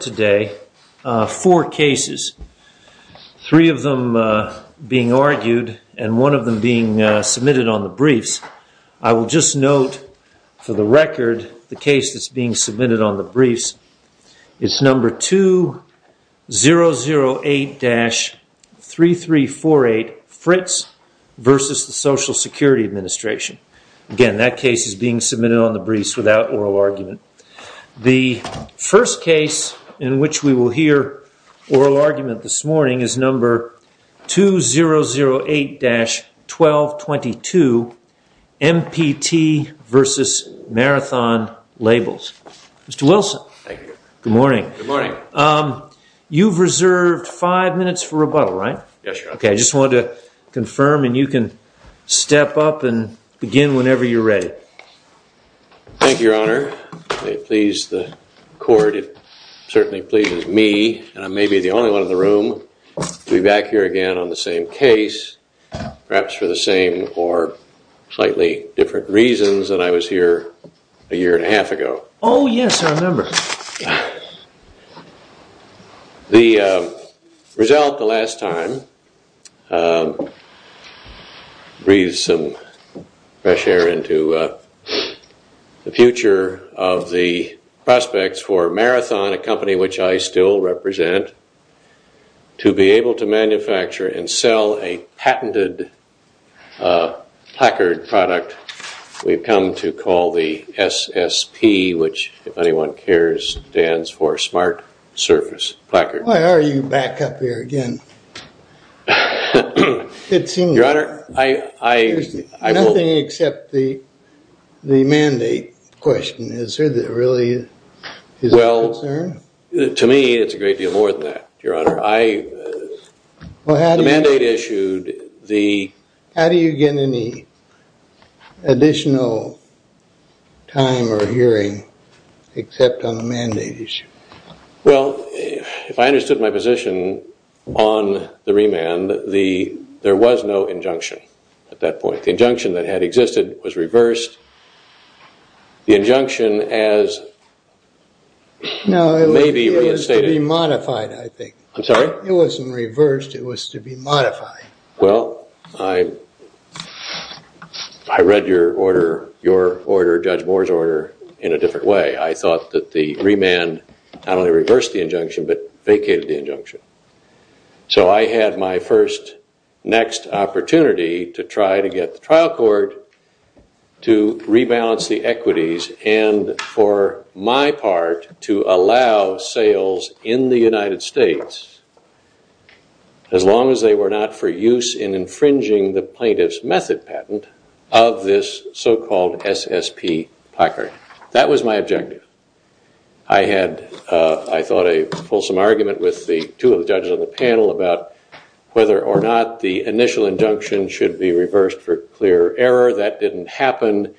Today, four cases, three of them being argued and one of them being submitted on the briefs. I will just note for the record the case that's being submitted on the briefs. It's number 2008-3348, Fritz v. Social Security Administration. Again, that case is being submitted on the briefs without oral argument. The first case in which we will hear oral argument this morning is number 2008-1222, MPT v. Marathon Labels. Mr. Wilson. Thank you. Good morning. Good morning. You've reserved five minutes for rebuttal, right? Yes, Your Honor. Okay, I just wanted to confirm and you can step up and begin whenever you're ready. Thank you, Your Honor. If it pleases the court, it certainly pleases me and I may be the only one in the room to be back here again on the same case, perhaps for the same or slightly different reasons than I was here a year and a half ago. Oh, yes, I remember. The result the last time breathes some fresh air into the future of the prospects for Marathon, a company which I still represent, to be able to manufacture and sell a patented placard product we've come to call the SSP, which, if anyone cares, stands for Smart Surface Placard. Why are you back up here again? Your Honor, I... Nothing except the mandate question. Is there really a concern? Well, to me, it's a great deal more than that, Your Honor. The mandate issued, the... Except on the mandate issue. Well, if I understood my position on the remand, there was no injunction at that point. The injunction that had existed was reversed. The injunction as... No, it was to be modified, I think. I'm sorry? It wasn't reversed. It was to be modified. Well, I read your order, Judge Moore's order, in a different way. I thought that the remand not only reversed the injunction but vacated the injunction. So I had my first next opportunity to try to get the trial court to rebalance the equities and, for my part, to allow sales in the United States, as long as they were not for use in infringing the plaintiff's method patent of this so-called SSP placard. That was my objective. I had, I thought, a fulsome argument with the two of the judges on the panel about whether or not the initial injunction should be reversed for clear error. That didn't happen.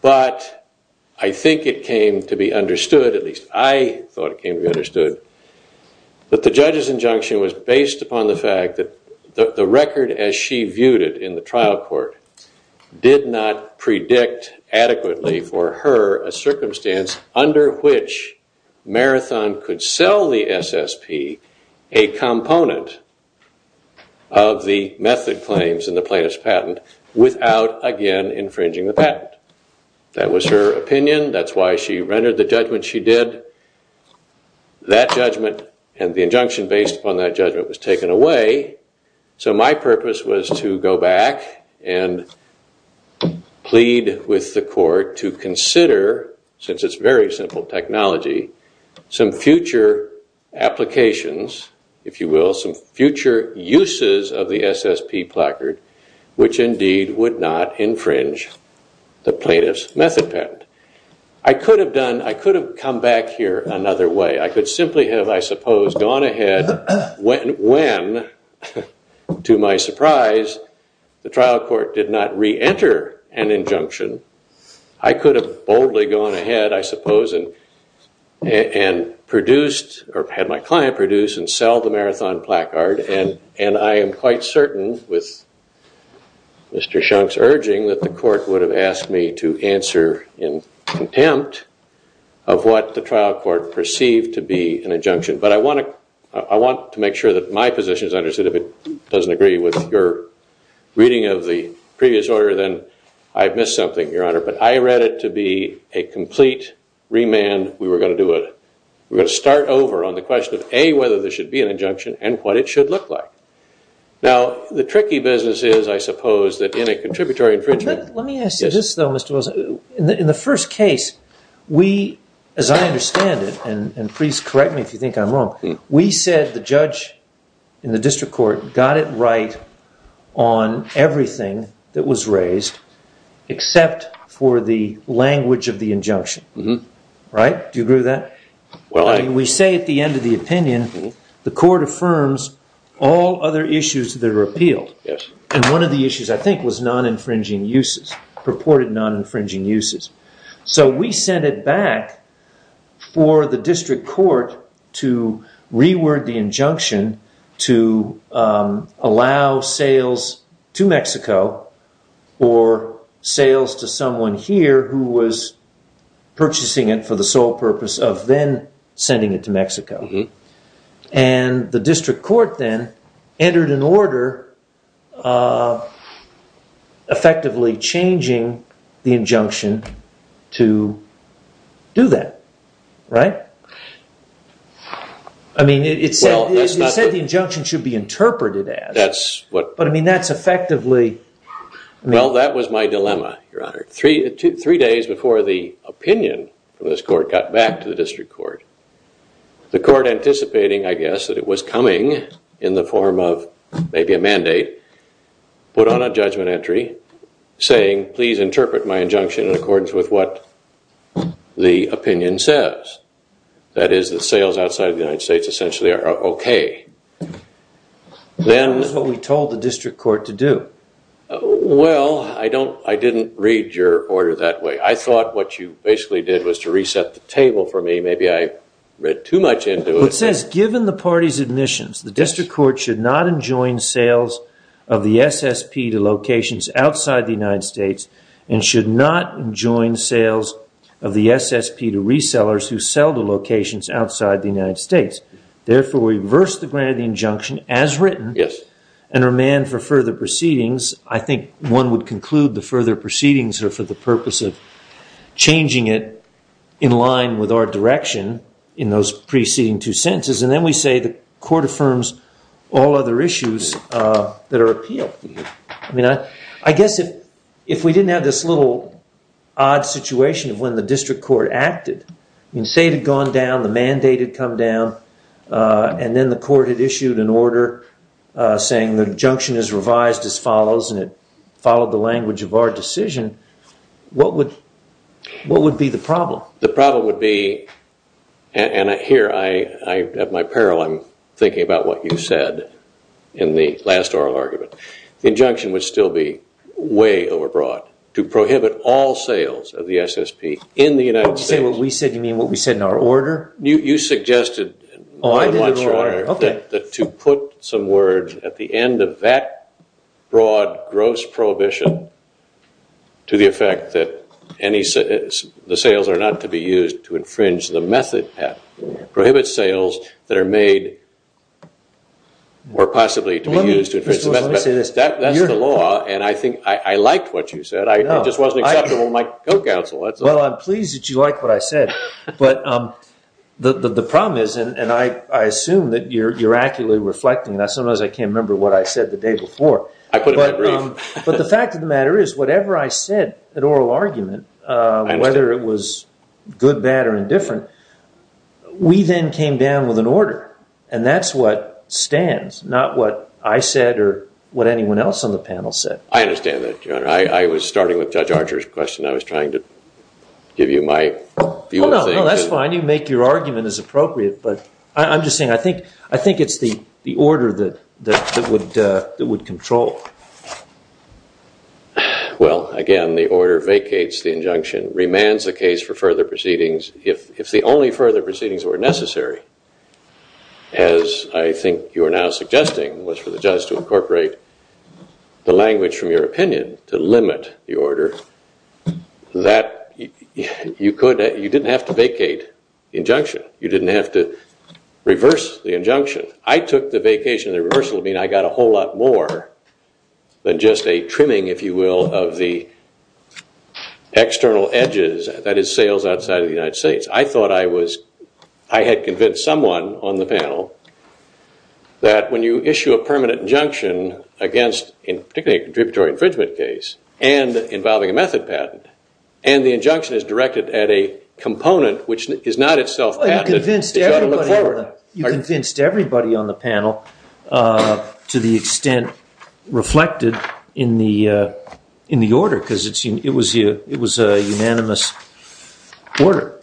But I think it came to be understood, at least I thought it came to be understood, that the judge's injunction was based upon the fact that the record as she viewed it in the trial court did not predict adequately for her a circumstance under which Marathon could sell the SSP, a component of the method claims in the plaintiff's patent, without, again, infringing the patent. That was her opinion. That's why she rendered the judgment she did. That judgment and the injunction based upon that judgment was taken away. So my purpose was to go back and plead with the court to consider, since it's very simple technology, some future applications, if you will, some future uses of the SSP placard, which indeed would not infringe the plaintiff's method patent. I could have done, I could have come back here another way. I could simply have, I suppose, gone ahead when, to my surprise, the trial court did not re-enter an injunction. I could have boldly gone ahead, I suppose, and produced, or had my client produce and sell the Marathon placard. And I am quite certain, with Mr. Shunk's urging, that the court would have asked me to answer in contempt of what the trial court perceived to be an injunction. But I want to make sure that my position is understood. If it doesn't agree with your reading of the previous order, then I've missed something, Your Honor. But I read it to be a complete remand. We were going to do it. We're going to start over on the question of, A, whether there should be an injunction and what it should look like. Now, the tricky business is, I suppose, that in a contributory infringement... Let me ask you this, though, Mr. Wilson. In the first case, we, as I understand it, and please correct me if you think I'm wrong, we said the judge in the district court got it right on everything that was raised, except for the language of the injunction. Right? Do you agree with that? We say at the end of the opinion, the court affirms all other issues that are appealed. And one of the issues, I think, was non-infringing uses, purported non-infringing uses. So we sent it back for the district court to reword the injunction to allow sales to Mexico or sales to someone here who was purchasing it for the sole purpose of then sending it to Mexico. And the district court then entered an order effectively changing the injunction to do that. Right? I mean, it said the injunction should be interpreted as... That's what... But I mean, that's effectively... Well, that was my dilemma, Your Honor. Three days before the opinion of this court got back to the district court, the court, anticipating, I guess, that it was coming in the form of maybe a mandate, put on a judgment entry saying, please interpret my injunction in accordance with what the opinion says. That is, the sales outside of the United States essentially are okay. That's what we told the district court to do. Well, I didn't read your order that way. I thought what you basically did was to reset the table for me. Maybe I read too much into it. It says, given the party's admissions, the district court should not enjoin sales of the SSP to locations outside the United States and should not enjoin sales of the SSP to resellers who sell to locations outside the United States. Therefore, we reverse the grant of the injunction as written and remand for further proceedings. I think one would conclude the further proceedings are for the purpose of changing it in line with our direction in those preceding two sentences. And then we say the court affirms all other issues that are appealed. I mean, I guess if we didn't have this little odd situation of when the district court acted, you can say it had gone down, the mandate had come down, and then the court had issued an order saying the injunction is revised as follows, and it followed the language of our decision, what would be the problem? The problem would be, and here at my peril I'm thinking about what you said in the last oral argument, the injunction would still be way overbroad to prohibit all sales of the SSP in the United States. What did you say? What we said? You mean what we said in our order? You suggested that to put some words at the end of that broad, gross prohibition to the effect that the sales are not to be used to infringe the method, prohibit sales that are made or possibly to be used to infringe the method. That's the law, and I think I liked what you said, it just wasn't acceptable in my co-counsel. Well, I'm pleased that you like what I said, but the problem is, and I assume that you're accurately reflecting that, sometimes I can't remember what I said the day before. I put it in my brief. But the fact of the matter is, whatever I said in oral argument, whether it was good, bad, or indifferent, we then came down with an order, and that's what stands, not what I said or what anyone else on the panel said. I understand that, Your Honor. I was starting with Judge Archer's question. I was trying to give you my view of things. No, that's fine. You make your argument as appropriate, but I'm just saying I think it's the order that would control. Well, again, the order vacates the injunction, remands the case for further proceedings. If the only further proceedings were necessary, as I think you are now suggesting, was for the judge to incorporate the language from your opinion to limit the order, you didn't have to vacate the injunction. You didn't have to reverse the injunction. I took the vacation of the reversal to mean I got a whole lot more than just a trimming, if you will, of the external edges, that is, sales outside of the United States. I thought I had convinced someone on the panel that when you issue a permanent injunction against, in particularly a contributory infringement case, and involving a method patent, and the injunction is directed at a component which is not itself patented, you've got to look forward. You convinced everybody on the panel to the extent reflected in the order, because it was a unanimous order.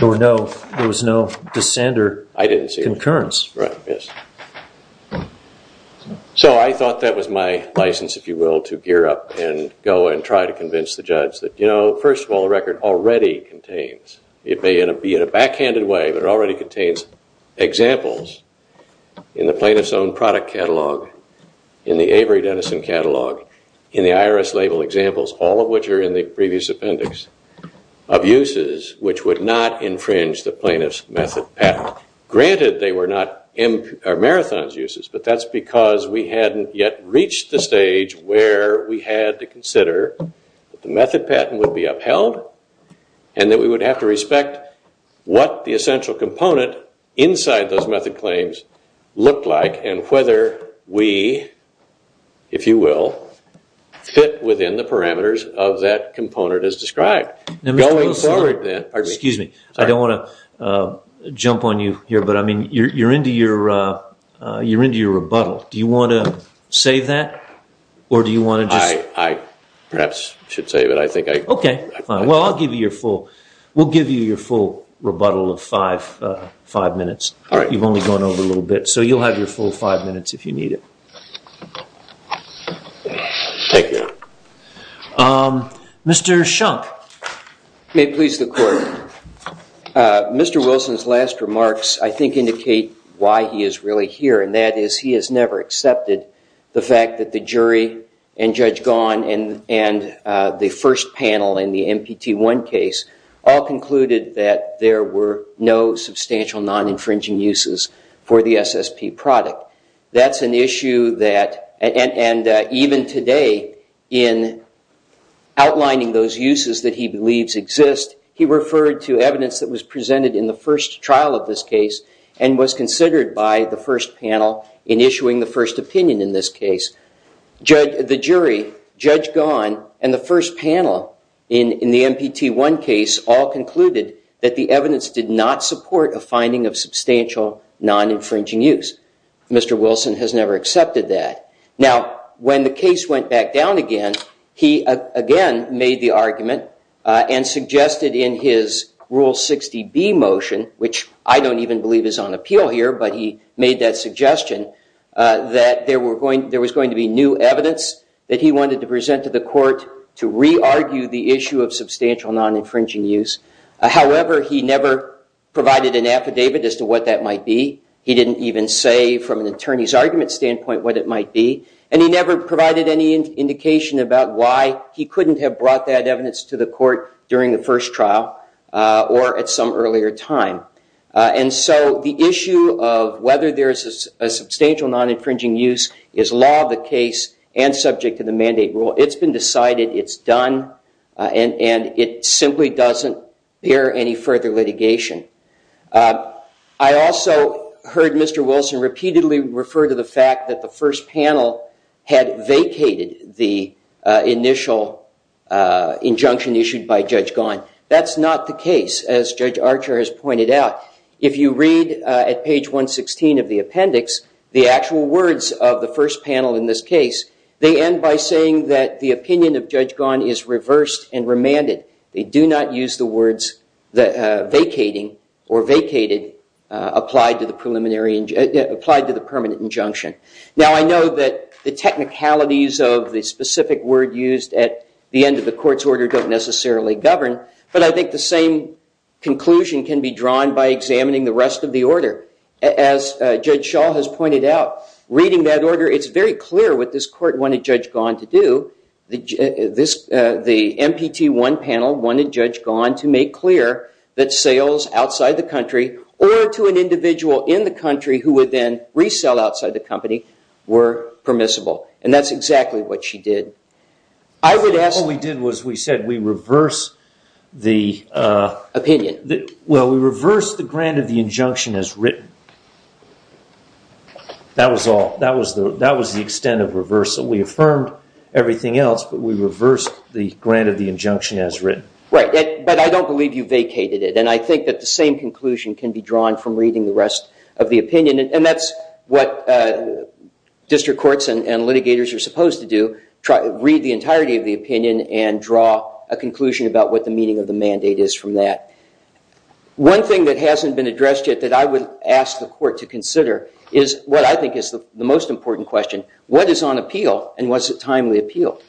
There was no dissent or concurrence. I didn't see it. Right, yes. So I thought that was my license, if you will, to gear up and go and try to convince the judge that, you know, first of all, the record already contains, it may be in a backhanded way, but it already contains examples in the plaintiff's own product catalog, in the Avery Denison catalog, in the IRS label examples, all of which are in the previous appendix, of uses which would not infringe the plaintiff's method patent. Granted, they were not Marathon's uses, but that's because we hadn't yet reached the stage where we had to consider that the method patent would be upheld, and that we would have to respect what the essential component inside those method claims looked like, and whether we, if you will, fit within the parameters of that component as described. Now, Mr. Wilson, excuse me, I don't want to jump on you here, but I mean, you're into your rebuttal. Do you want to say that, or do you want to just... I perhaps should say that I think I... Well, I'll give you your full... We'll give you your full rebuttal of five minutes. All right. You've only gone over a little bit, so you'll have your full five minutes if you need it. Thank you. Mr. Shunk. May it please the Court. Mr. Wilson's last remarks, I think, indicate why he is really here, and that is he has never accepted the fact that the jury and Judge Gahan and the first panel in the MPT1 case all concluded that there were no substantial non-infringing uses for the SSP product. That's an issue that, and even today, in outlining those uses that he believes exist, he referred to evidence that was presented in the first trial of this case and was considered by the first panel in issuing the first opinion in this case. The jury, Judge Gahan, and the first panel in the MPT1 case all concluded that the evidence did not support a finding of substantial non-infringing use. Mr. Wilson has never accepted that. Now, when the case went back down again, he again made the argument and suggested in his Rule 60B motion, which I don't even believe is on appeal here, but he made that suggestion that there was going to be new evidence that he wanted to present to the Court to re-argue the issue of substantial non-infringing use. However, he never provided an affidavit as to what that might be. He didn't even say from an attorney's argument standpoint what it might be, and he never provided any indication about why he couldn't have brought that evidence to the Court during the first trial or at some earlier time. And so the issue of whether there is a substantial non-infringing use is law of the case and subject to the mandate rule. It's been decided, it's done, and it simply doesn't bear any further litigation. I also heard Mr. Wilson repeatedly refer to the fact that the first panel had vacated the initial injunction issued by Judge Ghosn. That's not the case, as Judge Archer has pointed out. If you read at page 116 of the appendix the actual words of the first panel in this case, they end by saying that the opinion of Judge Ghosn is reversed and remanded. They do not use the words vacating or vacated applied to the permanent injunction. Now, I know that the technicalities of the specific word used at the end of the Court's order don't necessarily govern, but I think the same conclusion can be drawn by examining the rest of the order. As Judge Shaw has pointed out, reading that order, it's very clear what this Court wanted Judge Ghosn to do. The MPT 1 panel wanted Judge Ghosn to make clear that sales outside the country or to an individual in the country who would then resell outside the company were permissible, and that's exactly what she did. I would ask... What we did was we said we reverse the... Opinion. Well, we reversed the grant of the injunction as written. That was all. That was the extent of reversal. We affirmed everything else, but we reversed the grant of the injunction as written. Right, but I don't believe you vacated it, and I think that the same conclusion can be drawn from reading the rest of the opinion, and that's what district courts and litigators are supposed to do, read the entirety of the opinion and draw a conclusion about what the meaning of the mandate is from that. One thing that hasn't been addressed yet that I would ask the Court to consider is what I think is the most important question. What is on appeal, and was it timely appeal?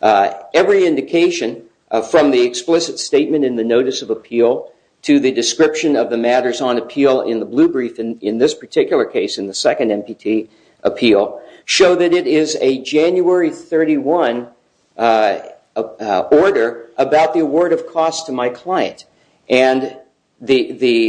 Every indication from the explicit statement in the notice of appeal to the description of the matters on appeal in the blue brief, in this particular case, in the second MPT appeal, show that it is a January 31 order about the award of costs to my client, and the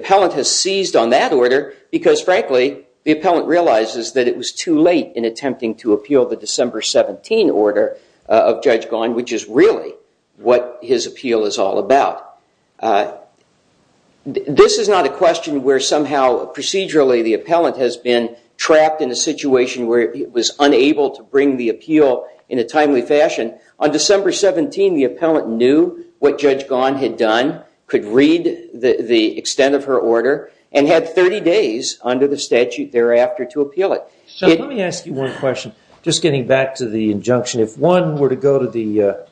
appellant has seized on that order because, frankly, the appellant realizes that it was too late in attempting to appeal the December 17 order of Judge Gahn, which is really what his appeal is all about. This is not a question where somehow procedurally the appellant has been trapped in a situation where he was unable to bring the appeal in a timely fashion. On December 17, the appellant knew what Judge Gahn had done, could read the extent of her order, and had 30 days under the statute thereafter to appeal it. Let me ask you one question, just getting back to the injunction. If one were to go to the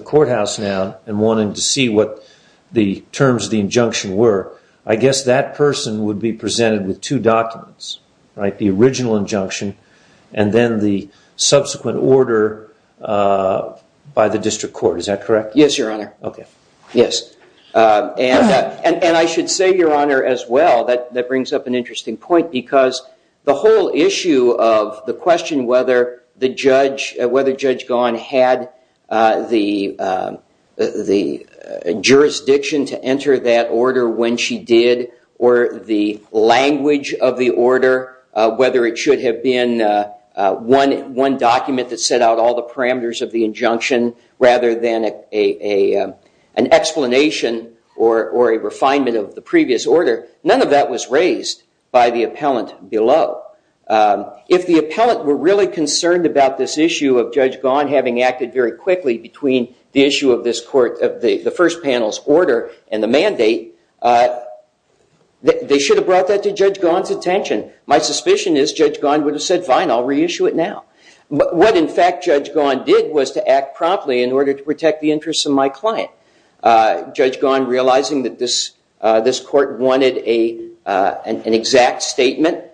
courthouse now and wanted to see what the terms of the injunction were, I guess that person would be presented with two documents, the original injunction and then the subsequent order by the district court. Is that correct? Yes, Your Honor. And I should say, Your Honor, as well, that brings up an interesting point because the whole issue of the question whether Judge Gahn had the jurisdiction to enter that order when she did or the language of the order, whether it should have been one document that set out all the parameters of the injunction rather than an explanation or a refinement of the previous order, none of that was raised by the appellant below. If the appellant were really concerned about this issue of Judge Gahn having acted very quickly between the issue of the first panel's order and the mandate, they should have brought that to Judge Gahn's attention. My suspicion is Judge Gahn would have said, fine, I'll reissue it now. What, in fact, Judge Gahn did was to act promptly in order to protect the interests of my client, Judge Gahn realizing that this court wanted an exact statement,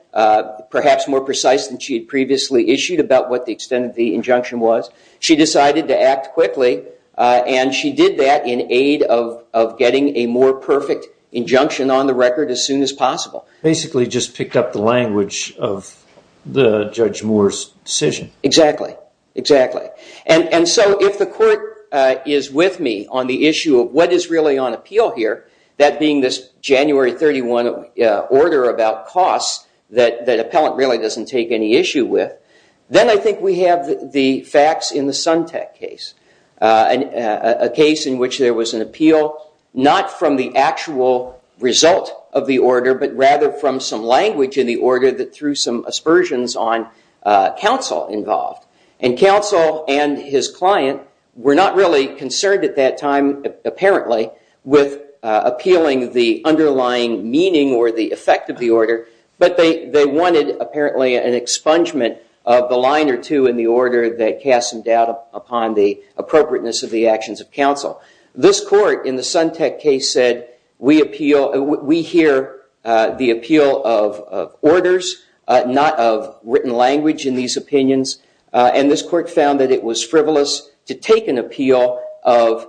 perhaps more precise than she had previously issued about what the extent of the injunction was. She decided to act quickly, and she did that in aid of getting a more perfect injunction on the record as soon as possible. Basically just picked up the language of Judge Moore's decision. Exactly, exactly. And so if the court is with me on the issue of what is really on appeal here, that being this January 31 order about costs that the appellant really doesn't take any issue with, then I think we have the facts in the Suntec case, a case in which there was an appeal not from the actual result of the order but rather from some language in the order that threw some aspersions on counsel involved. And counsel and his client were not really concerned at that time, apparently, with appealing the underlying meaning or the effect of the order, but they wanted, apparently, an expungement of the line or two in the order that cast some doubt upon the appropriateness of the actions of counsel. This court in the Suntec case said, we hear the appeal of orders, not of written language in these opinions, and this court found that it was frivolous to take an appeal of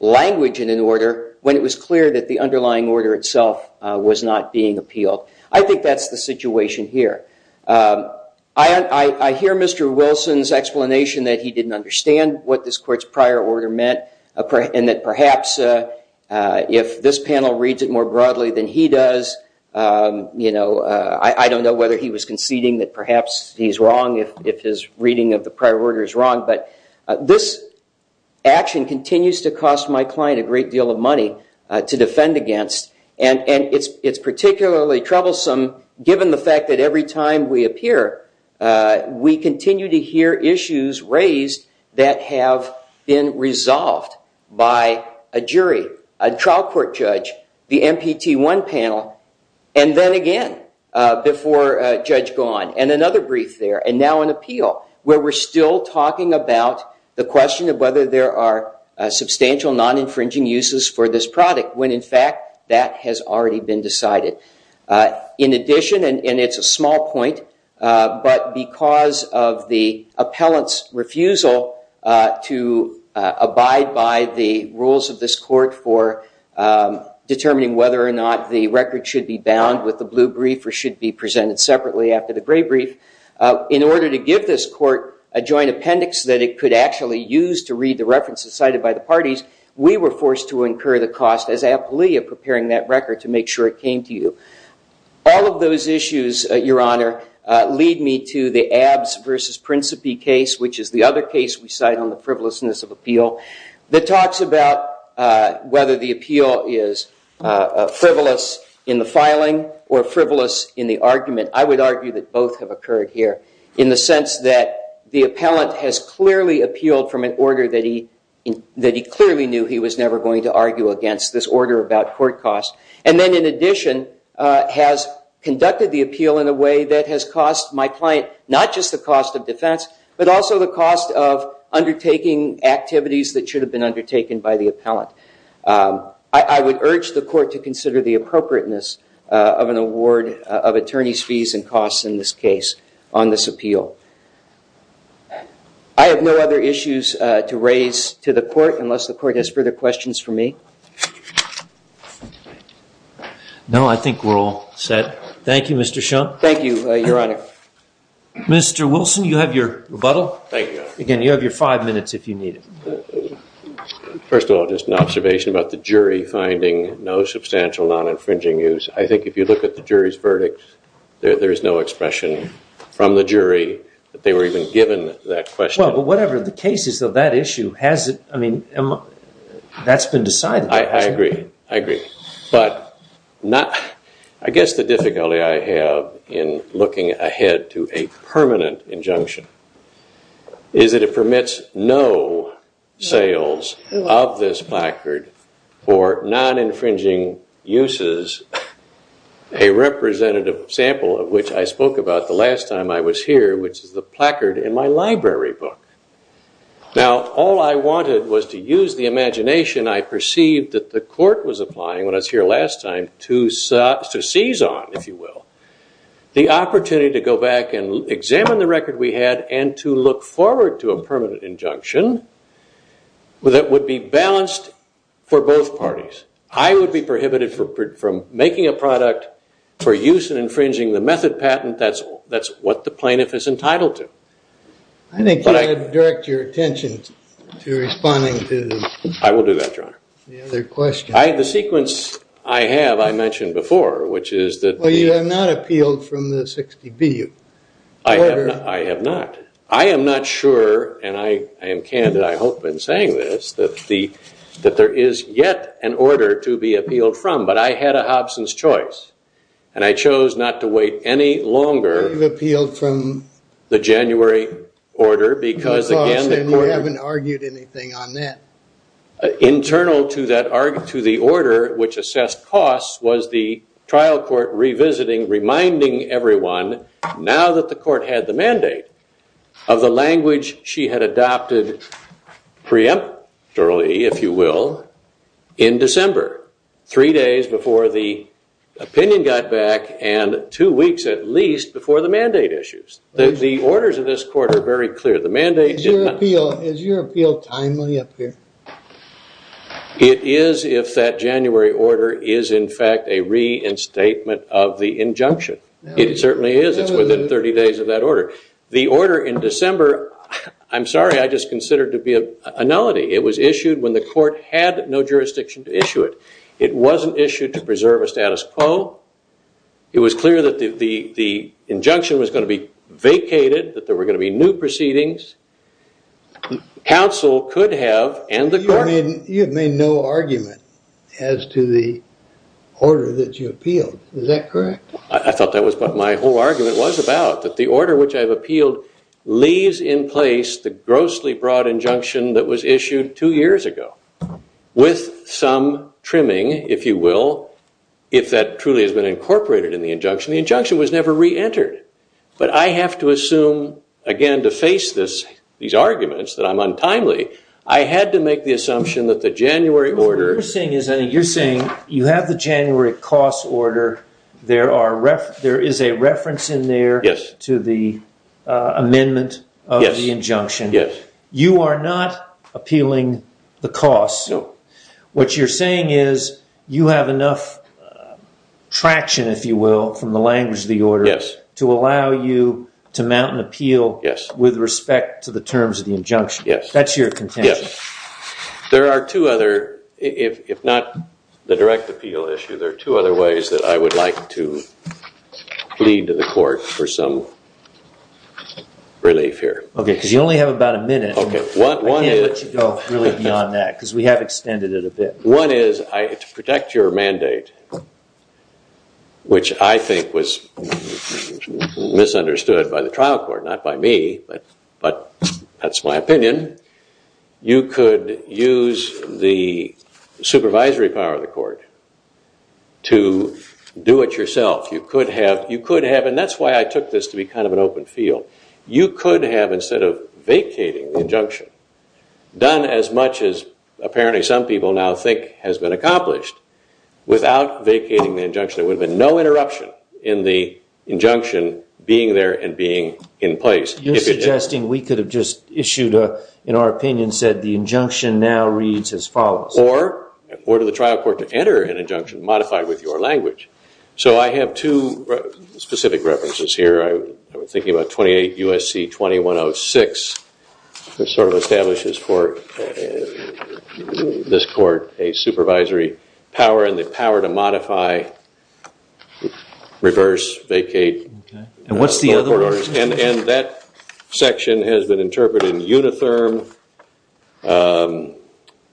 language in an order when it was clear that the underlying order itself was not being appealed. I think that's the situation here. I hear Mr. Wilson's explanation that he didn't understand what this court's prior order meant and that perhaps if this panel reads it more broadly than he does, I don't know whether he was conceding that perhaps he's wrong if his reading of the prior order is wrong, but this action continues to cost my client a great deal of money to defend against, and it's particularly troublesome given the fact that every time we appear, we continue to hear issues raised that have been resolved by a jury, a trial court judge, the MPT1 panel, and then again before Judge Gahan, and another brief there, and now an appeal, where we're still talking about the question of whether there are substantial non-infringing uses for this product when, in fact, that has already been decided. In addition, and it's a small point, but because of the appellant's refusal to abide by the rules of this court for determining whether or not the record should be bound with the blue brief or should be presented separately after the gray brief, in order to give this court a joint appendix that it could actually use to read the references cited by the parties, we were forced to incur the cost as appellee of preparing that record to make sure it came to you. All of those issues, Your Honor, lead me to the Abbs v. Principe case, which is the other case we cite on the frivolousness of appeal, that talks about whether the appeal is frivolous in the filing or frivolous in the argument. I would argue that both have occurred here in the sense that the appellant has clearly appealed from an order that he clearly knew he was never going to argue against, this order about court costs, and then in addition has conducted the appeal in a way that has cost my client not just the cost of defense, but also the cost of undertaking activities that should have been undertaken by the appellant. I would urge the court to consider the appropriateness of an award of attorney's fees and costs in this case on this appeal. I have no other issues to raise to the court unless the court has further questions for me. No, I think we're all set. Thank you, Mr. Shum. Thank you, Your Honor. Mr. Wilson, you have your rebuttal. Thank you, Your Honor. Again, you have your five minutes if you need it. First of all, just an observation about the jury finding no substantial non-infringing use. I think if you look at the jury's verdict, there is no expression from the jury that they were even given that question. Well, but whatever the case is of that issue, that's been decided. I agree. I agree. But I guess the difficulty I have in looking ahead to a permanent injunction is that it permits no sales of this placard for non-infringing uses. A representative sample of which I spoke about the last time I was here, which is the placard in my library book. Now, all I wanted was to use the imagination I perceived that the court was applying when I was here last time to seize on, if you will, the opportunity to go back and examine the record we had and to look forward to a permanent injunction that would be balanced for both parties. I would be prohibited from making a product for use in infringing the method patent. That's what the plaintiff is entitled to. I think you ought to direct your attention to responding to the other question. I will do that, Your Honor. The sequence I have I mentioned before, which is that... Well, you have not appealed from the 60B order. I have not. I am not sure, and I am candid, I hope, in saying this, that there is yet an order to be appealed from, but I had a Hobson's choice, and I chose not to wait any longer... You have appealed from... The January order because, again, the court... You haven't argued anything on that. Internal to the order which assessed costs was the trial court revisiting, reminding everyone, now that the court had the mandate, of the language she had adopted preemptorily, if you will, in December, three days before the opinion got back and two weeks at least before the mandate issues. The orders of this court are very clear. The mandate did not... Is your appeal timely up here? It is if that January order is, in fact, a reinstatement of the injunction. It certainly is. It's within 30 days of that order. The order in December, I'm sorry, I just consider it to be a nullity. It was issued when the court had no jurisdiction to issue it. It wasn't issued to preserve a status quo. It was clear that the injunction was going to be vacated, that there were going to be new proceedings. Counsel could have and the court... You have made no argument as to the order that you appealed. Is that correct? I thought that was what my whole argument was about, that the order which I have appealed leaves in place the grossly broad injunction that was issued two years ago with some trimming, if you will, if that truly has been incorporated in the injunction. The injunction was never re-entered. But I have to assume, again, to face these arguments that I'm untimely, I had to make the assumption that the January order... You're saying you have the January cost order, there is a reference in there to the amendment of the injunction. You are not appealing the cost. What you're saying is you have enough traction, if you will, from the language of the order to allow you to mount an appeal with respect to the terms of the injunction. That's your contention. There are two other, if not the direct appeal issue, there are two other ways that I would like to plead to the court for some relief here. OK, because you only have about a minute. I can't let you go really beyond that because we have extended it a bit. One is, to protect your mandate, which I think was misunderstood by the trial court, not by me, but that's my opinion, you could use the supervisory power of the court to do it yourself. You could have... And that's why I took this to be kind of an open field. You could have, instead of vacating the injunction, done as much as apparently some people now think has been accomplished without vacating the injunction. There would have been no interruption in the injunction being there and being in place. You're suggesting we could have just issued, in our opinion, said the injunction now reads as follows. Or order the trial court to enter an injunction modified with your language. So I have two specific references here. I was thinking about 28 U.S.C. 2106, which sort of establishes for this court a supervisory power and the power to modify, reverse, vacate... And what's the other one? And that section has been interpreted in Unitherm...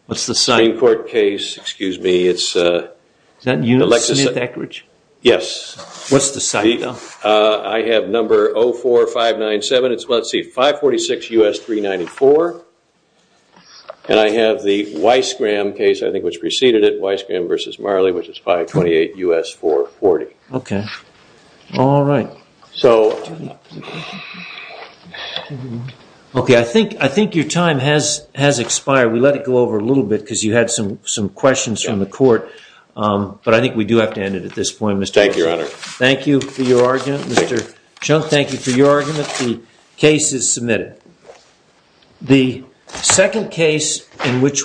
What's the site? ...Green Court case. Excuse me, it's... Is that U.S. Smith-Eckridge? Yes. What's the site, though? I have number 04597. It's, let's see, 546 U.S. 394. And I have the Weisskram case, I think, which preceded it, Weisskram v. Marley, which is 528 U.S. 440. Okay. All right. So... Okay, I think your time has expired. We let it go over a little bit because you had some questions from the court. But I think we do have to end it at this point, Mr. President. Thank you, Your Honor. Thank you for your argument, Mr. Chung. Thank you for your argument. The case is submitted.